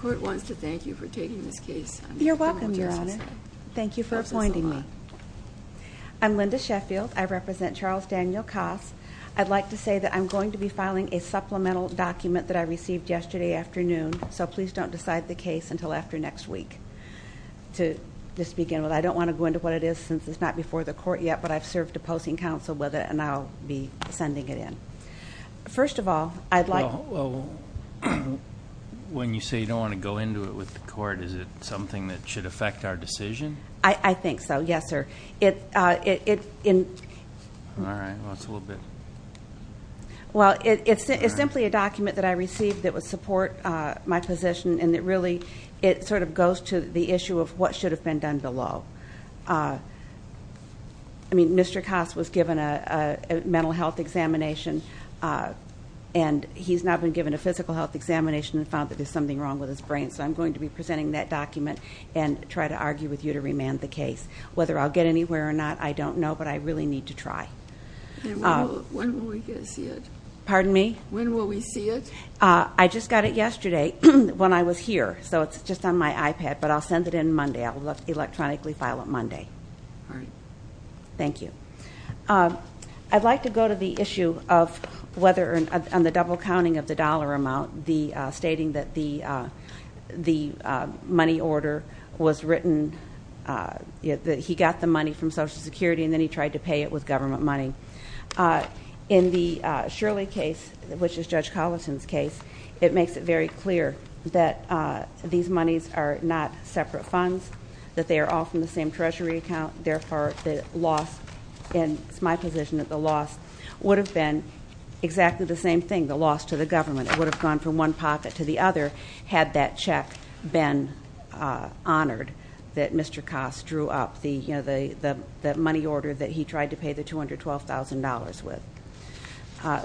Court wants to thank you for taking this case. You're welcome, Your Honor. Thank you for appointing me. I'm Linda Sheffield. I represent Charles Daniel Koss. I'd like to say that I'm going to be filing a supplemental document that I received yesterday afternoon, so please don't decide the case until after next week. To just begin with, I don't want to go into what it is since it's not before the court yet, but I've served opposing counsel with it and I'll be sending it in. First of all, I'd like... Well, when you say you don't want to go into it with the court, is it something that should affect our decision? I think so, yes, sir. It's simply a document that I received that would support my position and that really it sort of goes to the issue of what should have been done below. I mean, Mr. Koss was given a mental health examination and he's now been given a physical health examination and found that there's something wrong with his brain, so I'm going to be presenting that document and try to argue with you to remand the case. Whether I'll get anywhere or not, I don't know, but I really need to try. When will we see it? Pardon me? When will we see it? I just got it yesterday when I was here, so it's just on my iPad, but I'll send it in Monday. I will electronically file it Monday. Thank you. I'd like to go to the issue of whether on the double counting of the dollar amount, stating that the money order was written, that he got the money from Social Security and then he tried to pay it with government money. In the Shirley case, which is Judge Collison's case, it makes it very clear that these monies are not separate funds, that they are all from the same Treasury account, therefore the loss, and it's my position that the loss would have been exactly the same thing, the loss to the government. It would have gone from one pocket to the other had that check been honored, that Mr. Koss drew up the money order that he tried to pay the $212,000 with.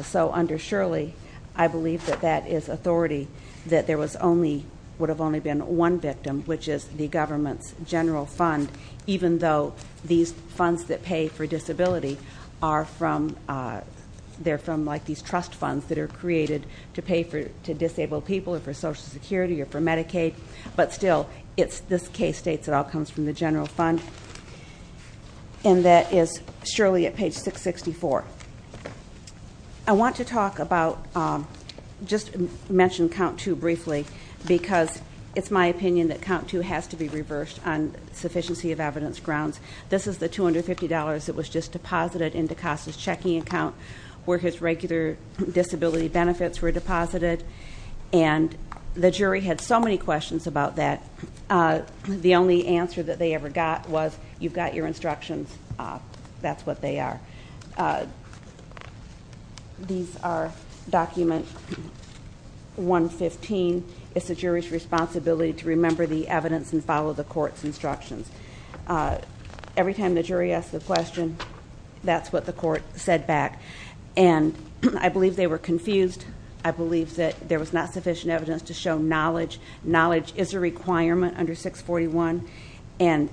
So under Shirley, I believe that that is authority, that there was only, would have only been one victim, which is the government's general fund, even though these funds that pay for disability are from, they're from like these trust funds that are created to pay for, to disabled people or for Social Security or for Medicaid, but still, it's this case states it all comes from the general fund, and that is Shirley at page 664. I want to talk about, just mention count two briefly, because it's my opinion that it reversed on sufficiency of evidence grounds. This is the $250 that was just deposited into Koss's checking account, where his regular disability benefits were deposited, and the jury had so many questions about that, the only answer that they ever got was, you've got your instructions, that's what they are. These are document 115, it's the jury's responsibility to remember the evidence and follow the court's instructions. Every time the jury asked the question, that's what the court said back, and I believe they were confused. I believe that there was not sufficient evidence to show knowledge. Knowledge is a requirement under 641, and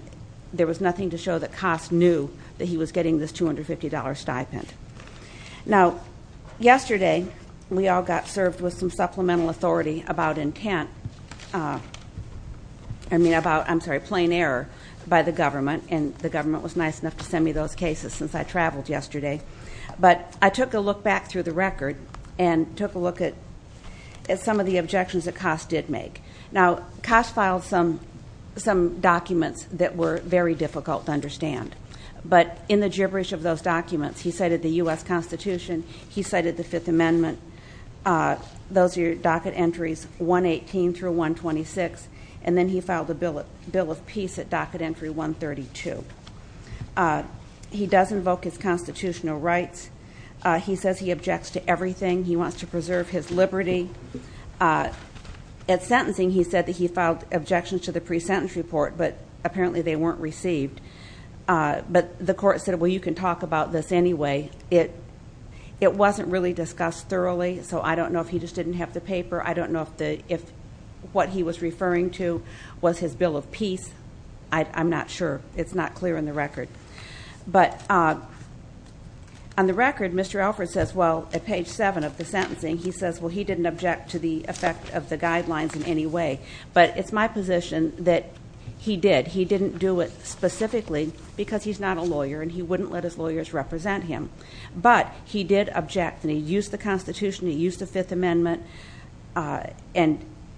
there was nothing to show that Koss knew that he was getting this $250 stipend. Now, yesterday, we all got served with some error by the government, and the government was nice enough to send me those cases since I traveled yesterday, but I took a look back through the record and took a look at some of the objections that Koss did make. Now, Koss filed some documents that were very difficult to understand, but in the gibberish of those documents, he cited the U.S. Constitution, he cited the Fifth Amendment, those are your docket entries 118 through 126, and then he filed a bill of peace at docket entry 132. He does invoke his constitutional rights, he says he objects to everything, he wants to preserve his liberty. At sentencing, he said that he filed objections to the pre-sentence report, but apparently they weren't received. But the court said, well, you can talk about this anyway. It wasn't really discussed thoroughly, so I don't know if he just didn't have the paper, I don't know if what he was referring to was his bill of peace, I'm not sure, it's not clear in the record. But on the record, Mr. Alford says, well, at page seven of the sentencing, he says, well, he didn't object to the effect of the guidelines in any way, but it's my position that he did. He didn't do it specifically because he's not a lawyer, and he wouldn't let his lawyers represent him. But he did object, and he used the Constitution, he used the Fifth Amendment. And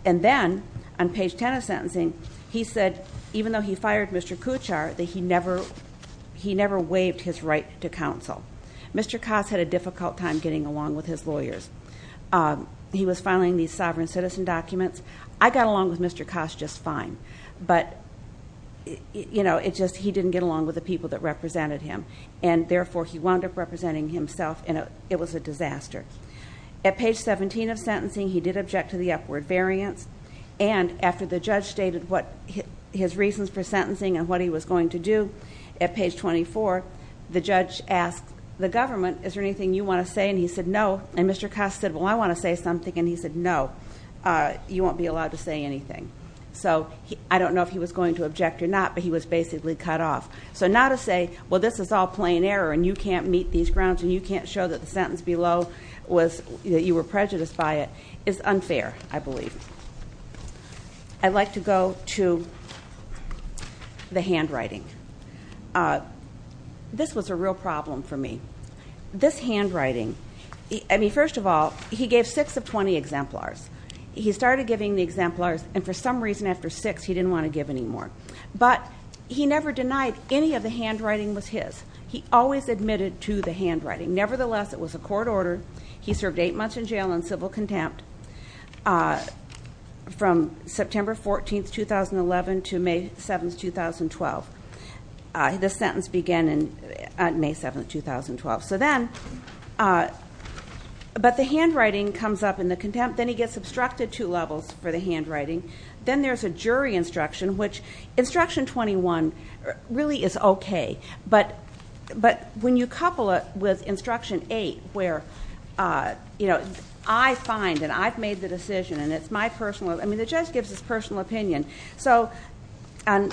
then, on page 10 of sentencing, he said, even though he fired Mr. Kuchar, that he never waived his right to counsel. Mr. Koss had a difficult time getting along with his lawyers. He was filing these sovereign citizen documents. I got along with Mr. Koss just fine, but it's just he didn't get along with the people that represented him, and therefore, he wound up representing himself, and it was a disaster. At page 17 of sentencing, he did object to the upward variance, and after the judge stated what his reasons for sentencing and what he was going to do, at page 24, the judge asked the government, is there anything you wanna say? And he said, no. And Mr. Koss said, well, I wanna say something, and he said, no, you won't be allowed to say anything. So, I don't know if he was going to object or not, but he was basically cut off. So now to say, well, this is all plain error, and you can't meet these grounds, and you can't show that the sentence below that you were prejudiced by it, is unfair, I believe. I'd like to go to the handwriting. This was a real problem for me. This handwriting... I mean, first of all, he gave six of 20 exemplars. He started giving the exemplars, and for some reason, after six, he didn't wanna give anymore. But he never denied any of the handwriting was his. He always admitted to the handwriting. Nevertheless, it was a court order. He served eight months in jail on civil contempt from September 14th, 2011 to May 7th, 2012. The sentence began on May 7th, 2012. So then... But the handwriting comes up in the contempt, then he gets obstructed two levels for the handwriting. Then there's a jury instruction, which instruction 21 really is okay, but when you couple it with instruction 8, where I find, and I've made the decision, and it's my personal... I mean, the judge gives his personal opinion. So, on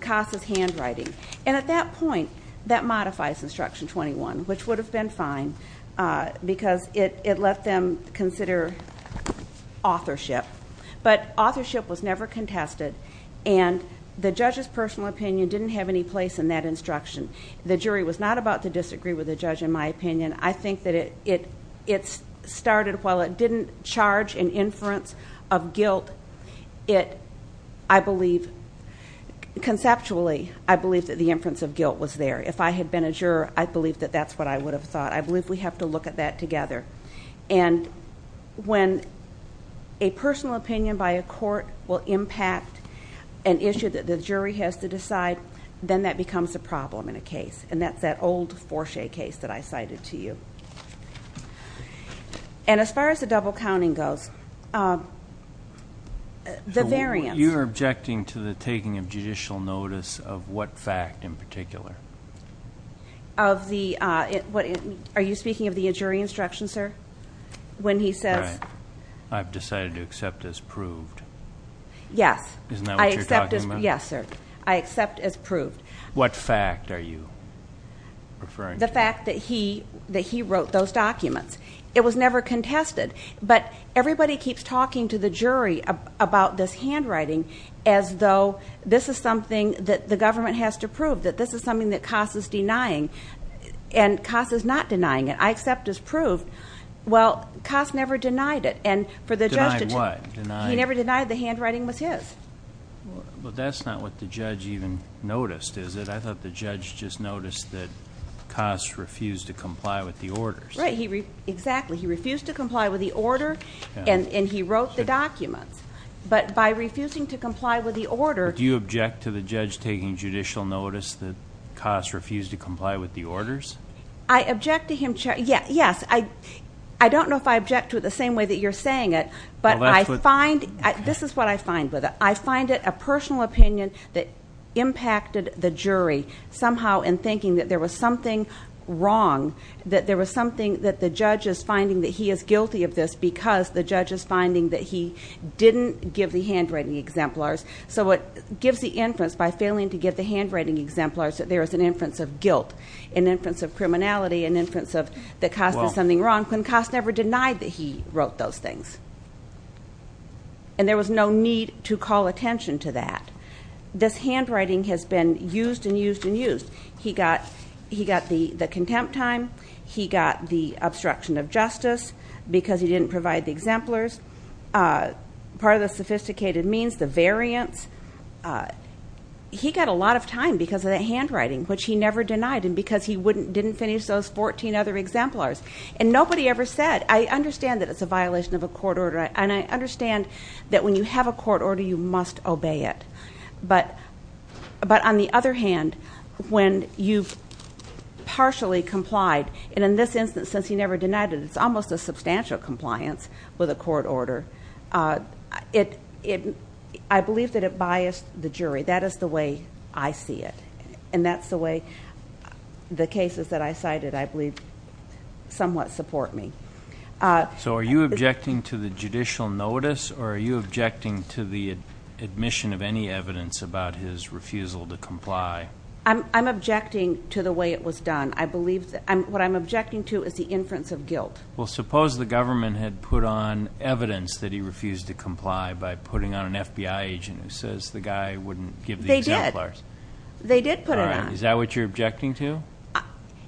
Casa's handwriting. And at that point, that modifies instruction 21, which would have been fine, because it let them consider authorship. But authorship was never contested, and the judge's personal opinion didn't have any place in that instruction. The jury was not about to disagree with the judge, in my opinion. I think that it started, while it didn't charge an inference of guilt, I believe... Conceptually, I believe that the inference of guilt was there. If I had been a juror, I believe that that's what I would have thought. I believe we have to look at that together. And when a personal opinion by a court will impact an issue that the jury has to decide, then that becomes a problem in a case. And that's that old Forche case that I cited to you. And as far as the double counting goes, the variance... You're objecting to the taking of judicial notice of what fact in particular? Of the... Are you speaking of the jury instruction, sir? When he says... Right. I've decided to accept as proved. Yes. Isn't that what you're talking about? Yes, sir. I accept as proved. What fact are you referring to? The fact that he wrote those documents. It was never contested, but everybody keeps talking to the jury about this handwriting as though this is something that the government has to prove, that this is something that Coss is denying. And Coss is not denying it. I accept as proved. Well, Coss never denied it. And for the judge to... Denied what? Denied... He never denied the handwriting was his. But that's not what the judge even noticed, is it? I thought the judge just noticed that Coss refused to comply with the orders. Right. He... Exactly. He refused to comply with the order and he wrote the order. Do you object to the judge taking judicial notice that Coss refused to comply with the orders? I object to him... Yes. I don't know if I object to it the same way that you're saying it, but I find... This is what I find with it. I find it a personal opinion that impacted the jury somehow in thinking that there was something wrong, that there was something that the judge is finding that he is guilty of this because the judge is finding that he gives the inference by failing to give the handwriting exemplars that there is an inference of guilt, an inference of criminality, an inference of that Coss did something wrong, when Coss never denied that he wrote those things. And there was no need to call attention to that. This handwriting has been used and used and used. He got the contempt time, he got the obstruction of justice because he didn't provide the exemplars. Part of the sophisticated means, the variance. He got a lot of time because of that handwriting, which he never denied and because he didn't finish those 14 other exemplars. And nobody ever said... I understand that it's a violation of a court order and I understand that when you have a court order, you must obey it. But on the other hand, when you've partially complied, and in this instance, since he never denied it, it's almost a substantial compliance with a court order. I believe that it biased the jury. That is the way I see it. And that's the way the cases that I cited, I believe, somewhat support me. So are you objecting to the judicial notice or are you objecting to the admission of any evidence about his refusal to comply? I'm objecting to the way it was done. I believe... What I'm objecting to is the inference of guilt. Well, suppose the government had put on evidence that he refused to comply by putting on an FBI agent who says the guy wouldn't give the exemplars. They did. They did put it on. Is that what you're objecting to?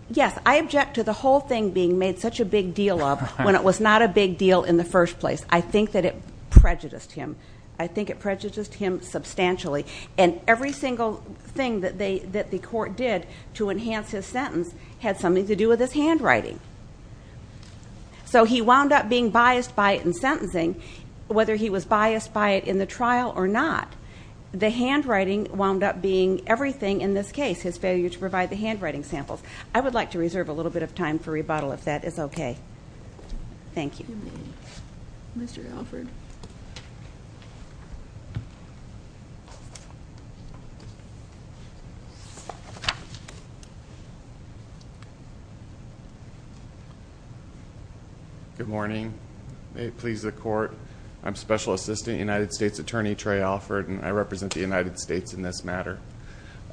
Yes. I object to the whole thing being made such a big deal of when it was not a big deal in the first place. I think that it prejudiced him. I think it prejudiced him substantially. And every single thing that the court did to enhance his sentence had something to do with his handwriting. So he wound up being biased by it in sentencing, whether he was biased by it in the trial or not. The handwriting wound up being everything in this case, his failure to provide the handwriting samples. I would like to reserve a little bit of time for rebuttal if that is okay. Thank you. Mr. Alford. Good morning. May it please the court. I'm Special Assistant United States Attorney Trey Alford, and I represent the United States in this matter.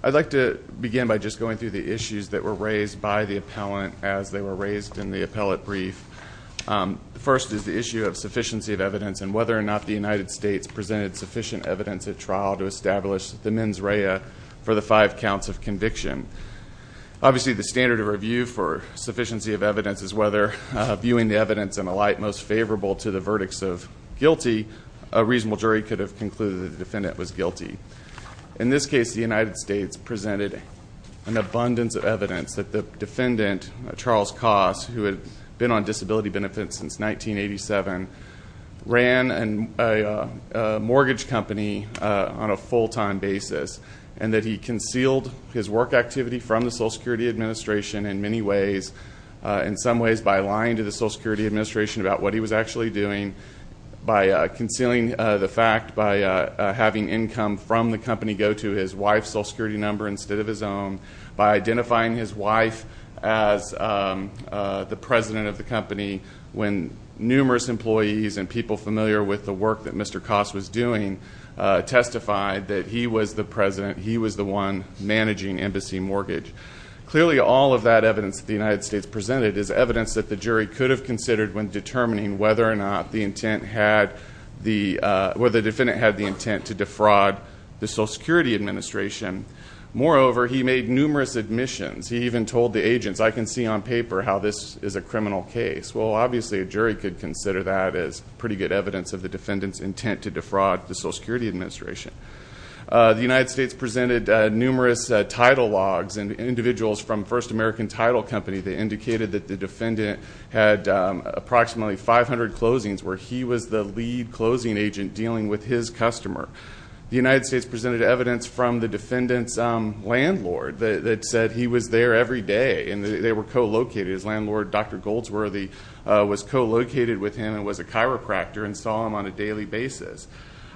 I'd like to begin by just going through the issues that were raised by the appellant as they were raised in the appellate brief. First is the issue of sufficiency of evidence and whether or not the United States presented sufficient evidence at trial to establish the mens rea for the five counts of conviction. Obviously, the standard of review for sufficiency of evidence is whether viewing the evidence in a light most favorable to the verdicts of guilty, a reasonable jury could have concluded that the defendant was guilty. In this case, the United States presented an abundance of evidence that the defendant, Charles Koss, who had been on disability benefits since 1987, ran a mortgage company on a full time basis, and that he concealed his work activity from the Social Security Administration in many ways. In some ways, by lying to the Social Security Administration about what he was actually doing, by concealing the fact, by having income from the company go to his wife's Social Security number instead of his own, by identifying his wife as the president of the company when numerous employees and people familiar with the work that Mr. Koss was doing testified that he was the president, he was the one managing embassy mortgage. Clearly, all of that evidence that the United States presented is evidence that the jury could have considered when determining whether or not the defendant had the intent to defraud the Social Security Administration. Moreover, he made numerous admissions. He even told the agents, I can see on paper how this is a criminal case. Well, obviously, a jury could consider that as pretty good evidence of the defendant's intent to defraud the Social Security Administration. The United States presented numerous title logs and individuals from First American Title Company that indicated that the defendant had approximately 500 closings where he was the lead closing agent dealing with his customer. The United States presented evidence from the defendant's landlord that said he was there every day and they were co-located, his landlord, Dr. Goldsworthy, was co-located with him and was a chiropractor and saw him on a daily basis.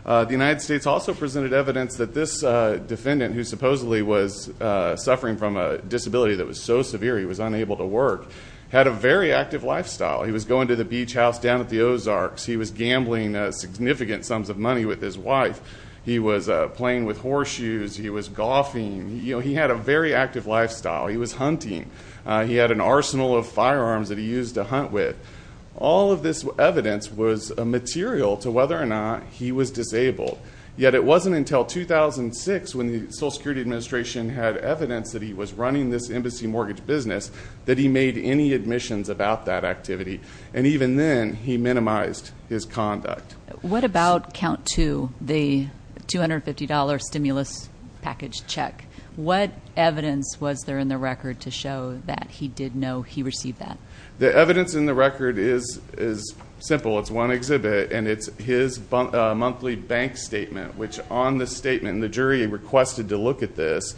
The United States also presented evidence that this defendant, who supposedly was suffering from a disability that was so severe he was unable to work, had a very active lifestyle. He was going to the beach house down at the Ozarks. He was gambling significant sums of money with his wife. He was playing with horseshoes. He was golfing. You know, he had a very active lifestyle. He was hunting. He had an arsenal of firearms that he used to hunt with. All of this evidence was a material to whether or not he was disabled. Yet it wasn't until 2006 when the Social Security Administration had evidence that he was running this embassy mortgage business that he made any admissions about that activity, and even then he minimized his conduct. What about count two, the $250 stimulus package check? What evidence was there in the record to show that he did know he received that? The evidence in the record is simple. It's one exhibit, and it's his monthly bank statement, which on the statement, and the jury requested to look at this,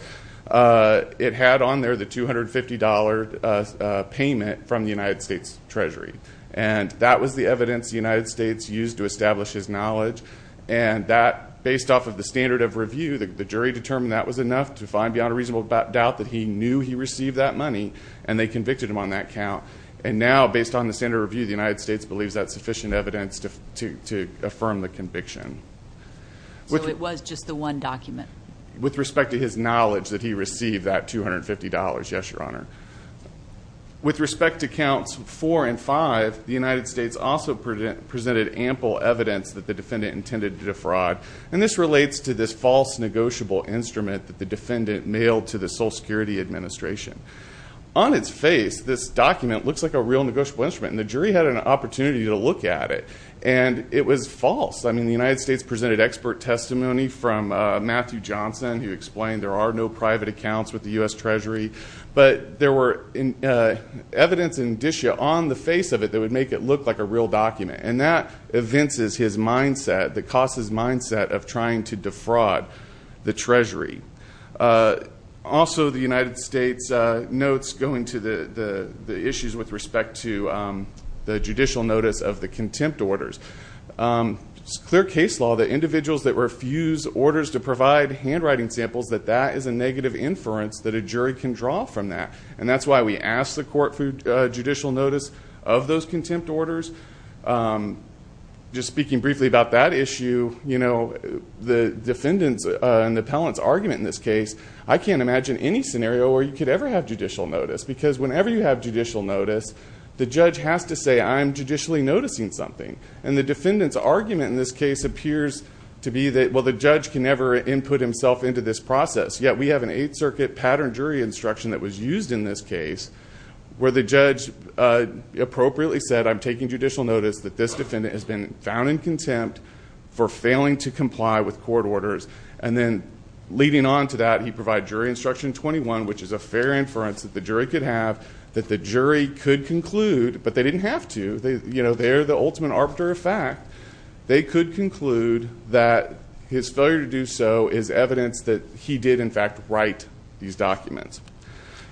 it had on there the $250 payment from the United States Treasury, and that was the evidence the United States used to establish his knowledge, and based off of the standard of review, the jury determined that was enough to find beyond a reasonable doubt that he knew he received that money, and they convicted him on that count. And now, based on the standard of review, the United States believes that's sufficient evidence to affirm the conviction. So it was just the one document? With respect to his knowledge that he received that $250, yes, Your Honor. With respect to counts four and five, the United States also presented ample evidence that the defendant intended to defraud, and this relates to this false negotiable instrument that the defendant mailed to the Social Security Administration. On its face, this document looks like a real negotiable instrument, and the jury had an opportunity to look at it, and it was false. I mean, the United States presented expert testimony from Matthew Johnson, who explained there are no private accounts with the U.S. Treasury, but there were evidence and indicia on the face of it that would make it look like a real document, and that evinces his mindset, that costs his mindset of trying to defraud the Treasury. Also, the United States notes going to the issues with respect to the judicial notice of the contempt orders, it's clear case law that individuals that refuse orders to provide handwriting samples, that that is a negative inference that a jury can draw from that, and that's why we asked the court for judicial notice of those contempt orders. Just speaking briefly about that issue, the defendants and the appellants argument in this case, I can't imagine any scenario where you could ever have judicial notice, because whenever you have judicial notice, the judge has to say, I'm judicially noticing something, and the defendants argument in this case appears to be that, well, the judge can never input himself into this process, yet we have an Eighth Circuit pattern jury instruction that was used in this case, where the judge appropriately said, I'm taking judicial with court orders, and then leading on to that, he provided jury instruction 21, which is a fair inference that the jury could have, that the jury could conclude, but they didn't have to, they're the ultimate arbiter of fact, they could conclude that his failure to do so is evidence that he did, in fact, write these documents.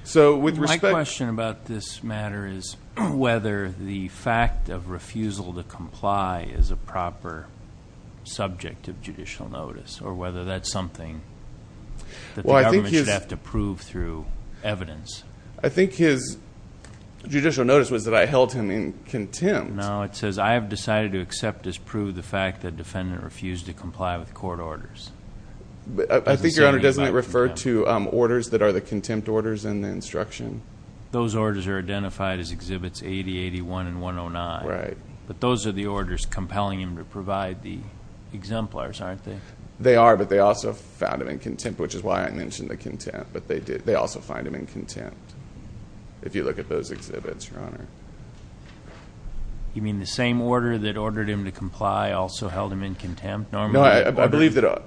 So, with respect... My question about this matter is whether the fact of refusal to comply is a judicial notice, or whether that's something that the government should have to prove through evidence. I think his judicial notice was that I held him in contempt. No, it says, I have decided to accept as proved the fact that defendant refused to comply with court orders. I think your honor, doesn't it refer to orders that are the contempt orders in the instruction? Those orders are identified as exhibits 80, 81, and 109. Right. But those are the orders compelling him to provide the exemplars, aren't they? They are, but they also found him in contempt, which is why I mentioned the contempt, but they also find him in contempt, if you look at those exhibits, your honor. You mean the same order that ordered him to comply also held him in contempt? No, I believe that,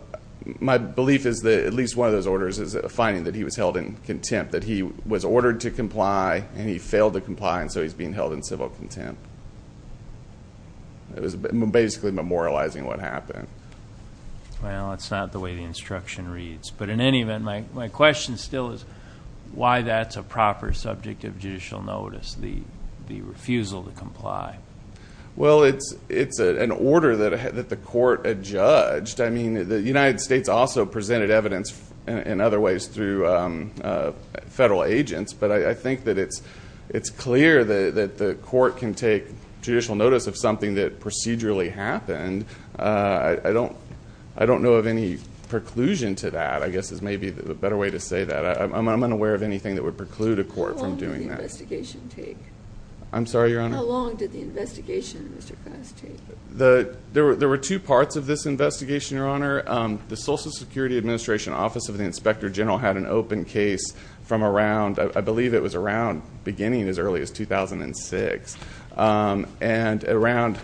my belief is that at least one of those orders is a finding that he was held in contempt, that he was ordered to comply, and he failed to comply, and so he's being held in civil contempt. It was basically memorializing what happened. Well, it's not the way the instruction reads, but in any event, my question still is why that's a proper subject of judicial notice, the refusal to comply? Well, it's an order that the court had judged. I mean, the United States also presented evidence in other ways through federal agents, but I think that it's clear that the court can take judicial notice of something that procedurally happened. I don't know of any preclusion to that, I guess is maybe the better way to say that. I'm unaware of anything that would preclude a court from doing that. How long did the investigation take? I'm sorry, your honor? How long did the investigation, Mr. Goss, take? There were two parts of this investigation, your honor. The Social Security Administration Office of the Inspector General had an open case from around, I believe it was around, beginning as early as 2006, and around,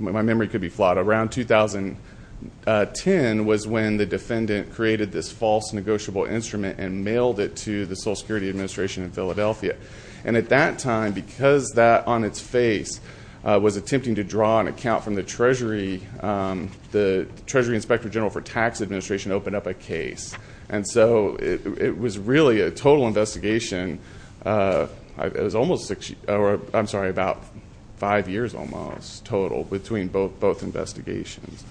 my memory could be flawed, around 2010 was when the defendant created this false negotiable instrument and mailed it to the Social Security Administration in Philadelphia, and at that time, because that on its face was attempting to draw an account from the Treasury, the Treasury Inspector General for Tax Administration opened up a case, and so it was really a total investigation. It was almost six, or I'm sorry, about five years almost total between both investigations.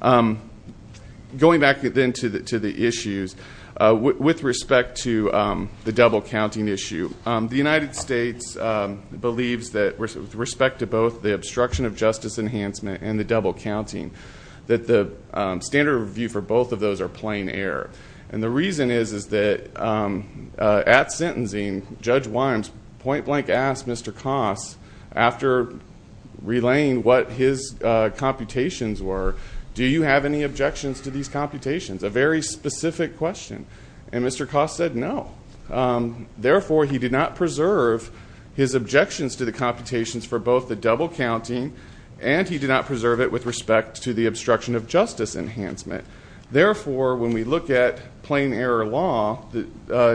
Going back then to the issues, with respect to the double counting issue, the United States believes that with respect to both the obstruction of justice enhancement and the double counting, that the standard review for both of those are plain error. And the reason is, is that at sentencing, Judge Wimes point blank asked Mr. Goss, after relaying what his computations were, do you have any objections to these computations, a very specific question. And Mr. Goss said no. Therefore, he did not preserve his objections to the computations for both the double counting, and he did not preserve it with respect to the obstruction of justice enhancement. Therefore, when we look at plain error law,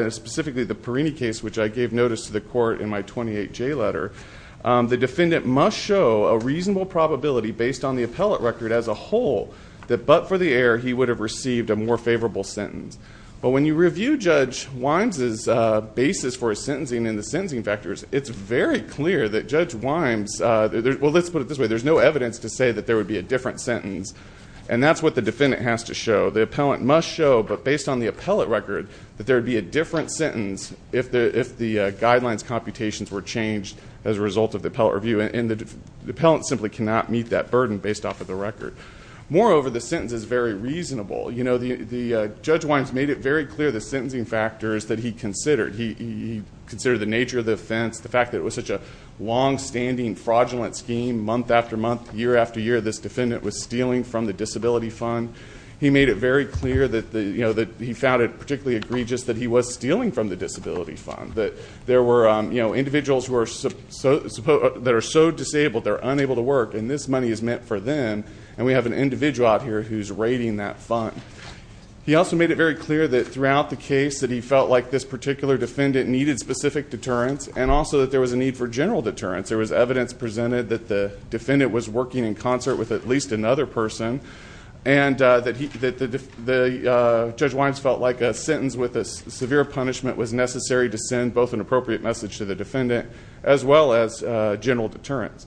specifically the Perini case, which I gave notice to the court in my 28J letter, the defendant must show a reasonable probability, based on the appellate record as a whole, that but for the error, he would have received a more favorable sentence. But when you review Judge Wimes' basis for his sentencing and the sentencing factors, it's very clear that Judge Wimes, well let's put it this way, there's no evidence to say that there would be a different sentence. And that's what the defendant has to show. The appellant must show, but based on the appellate record, that there would be a different sentence if the guidelines computations were changed as a result of the appellate review. And the appellant simply cannot meet that burden based off of the record. Moreover, the sentence is very reasonable. You know, Judge Wines made it very clear, the sentencing factors that he considered. He considered the nature of the offense, the fact that it was such a long standing fraudulent scheme, month after month, year after year, this defendant was stealing from the disability fund. He made it very clear that he found it particularly egregious that he was stealing from the disability fund. That there were individuals that are so disabled, they're unable to work, and this money is meant for them. And we have an individual out here who's raiding that fund. He also made it very clear that throughout the case that he felt like this particular defendant needed specific deterrence, and also that there was a need for general deterrence. There was evidence presented that the defendant was working in concert with at least another person. And that Judge Wines felt like a sentence with a severe punishment was necessary to send both an appropriate message to the defendant, as well as general deterrence.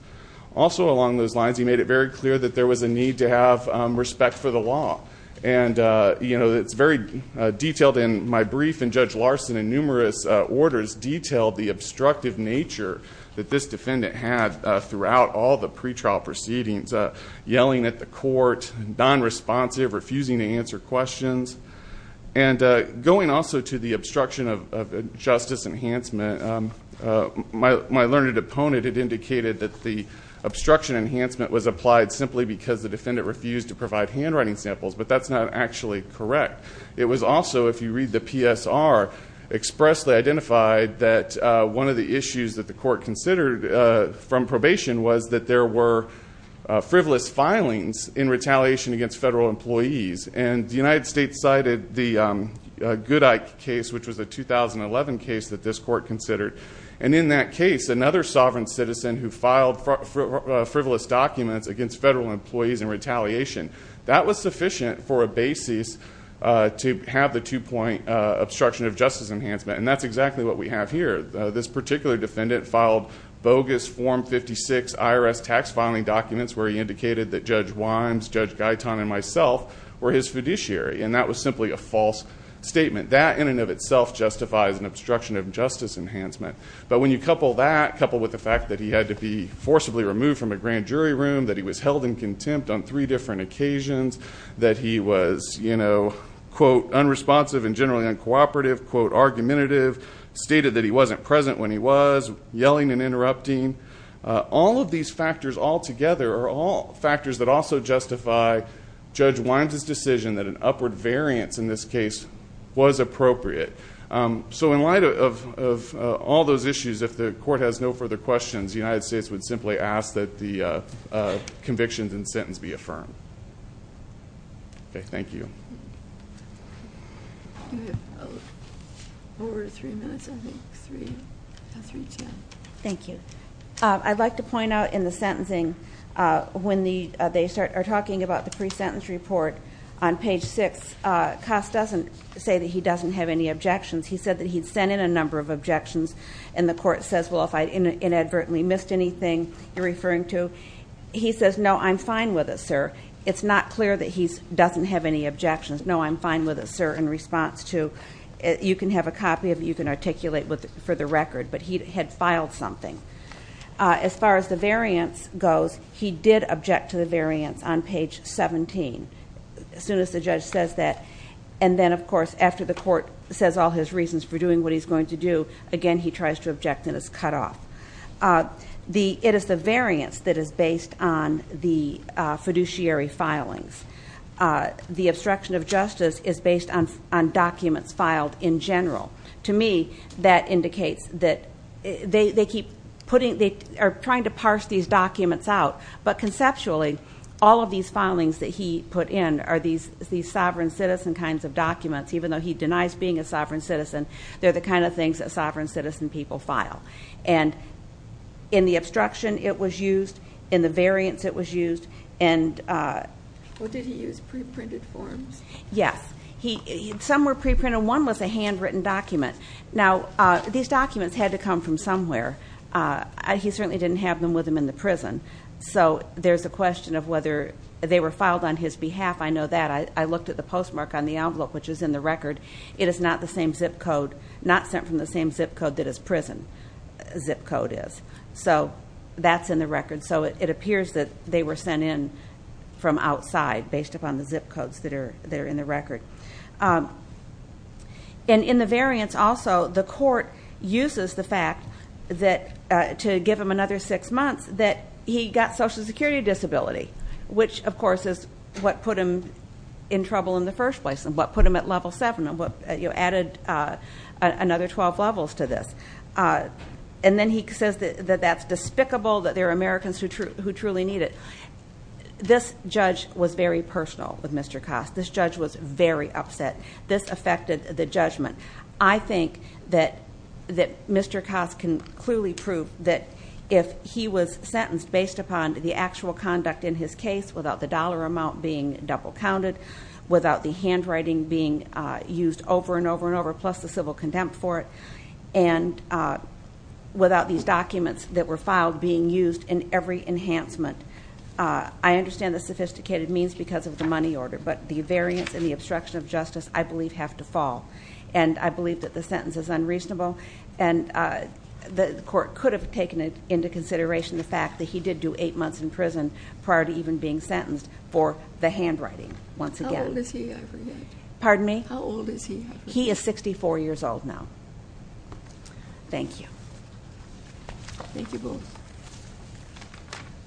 Also along those lines, he made it very clear that there was a need to have respect for the law. And it's very detailed in my brief, and Judge Larson in numerous orders detailed the obstructive nature that this defendant had throughout all the pretrial proceedings. Yelling at the court, non-responsive, refusing to answer questions. And going also to the obstruction of justice enhancement, my learned opponent had indicated that the obstruction enhancement was applied simply because the defendant refused to provide handwriting samples. But that's not actually correct. It was also, if you read the PSR, expressly identified that one of the issues that the court considered from probation was that there were frivolous filings in retaliation against federal employees. And the United States cited the Goodike case, which was a 2011 case that this court considered. And in that case, another sovereign citizen who filed frivolous documents against federal employees in retaliation. That was sufficient for a basis to have the two-point obstruction of justice enhancement, and that's exactly what we have here. This particular defendant filed bogus form 56 IRS tax filing documents where he indicated that Judge Wimes, Judge Guyton, and myself were his fiduciary, and that was simply a false statement. That in and of itself justifies an obstruction of justice enhancement. But when you couple that, coupled with the fact that he had to be forcibly removed from a grand jury room, that he was held in contempt on three different occasions, that he was, quote, unresponsive and generally uncooperative, quote, argumentative, stated that he wasn't present when he was, yelling and interrupting. All of these factors all together are all factors that also justify Judge Wines' decision that an upward variance in this case was appropriate. So in light of all those issues, if the court has no further questions, the United States would simply ask that the convictions and sentence be affirmed. Okay, thank you. Over three minutes, I think, three, three, two. Thank you. I'd like to point out in the sentencing, when they are talking about the pre-sentence report on page six, Koss doesn't say that he doesn't have any objections, he said that he'd sent in a number of objections. And the court says, well, if I inadvertently missed anything you're referring to, he says, no, I'm fine with it, sir. It's not clear that he doesn't have any objections. No, I'm fine with it, sir, in response to, you can have a copy of it, you can articulate for the record, but he had filed something. As far as the variance goes, he did object to the variance on page 17, as soon as the judge says that. And then, of course, after the court says all his reasons for doing what he's going to do, again, he tries to object and is cut off. It is the variance that is based on the fiduciary filings. The obstruction of justice is based on documents filed in general. To me, that indicates that they keep putting, they are trying to parse these documents out. But conceptually, all of these filings that he put in are these sovereign citizen kinds of documents. Even though he denies being a sovereign citizen, they're the kind of things that sovereign citizen people file. And in the obstruction it was used, in the variance it was used, and- Well, did he use pre-printed forms? Yes, some were pre-printed, one was a handwritten document. Now, these documents had to come from somewhere. He certainly didn't have them with him in the prison. So there's a question of whether they were filed on his behalf. I know that. I looked at the postmark on the envelope, which is in the record. It is not the same zip code, not sent from the same zip code that his prison zip code is. So that's in the record. So it appears that they were sent in from outside, based upon the zip codes that are in the record. And in the variance also, the court uses the fact that to give him another six months that he got social security disability. Which, of course, is what put him in trouble in the first place, and what put him at level seven, and what added another 12 levels to this. And then he says that that's despicable, that there are Americans who truly need it. This judge was very personal with Mr. Koss. This judge was very upset. This affected the judgment. I think that Mr. Koss can clearly prove that if he was sentenced based upon the actual conduct in his case, without the dollar amount being double counted, without the handwriting being used over and over and over, plus the civil contempt for it. And without these documents that were filed being used in every enhancement. I understand the sophisticated means because of the money order, but the variance and the obstruction of justice, I believe, have to fall. And I believe that the sentence is unreasonable. And the court could have taken into consideration the fact that he did do eight months in prison, prior to even being sentenced, for the handwriting, once again. How old is he, I forget. Pardon me? How old is he? He is 64 years old now. Thank you. Thank you both.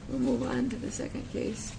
We'll move on to the second case.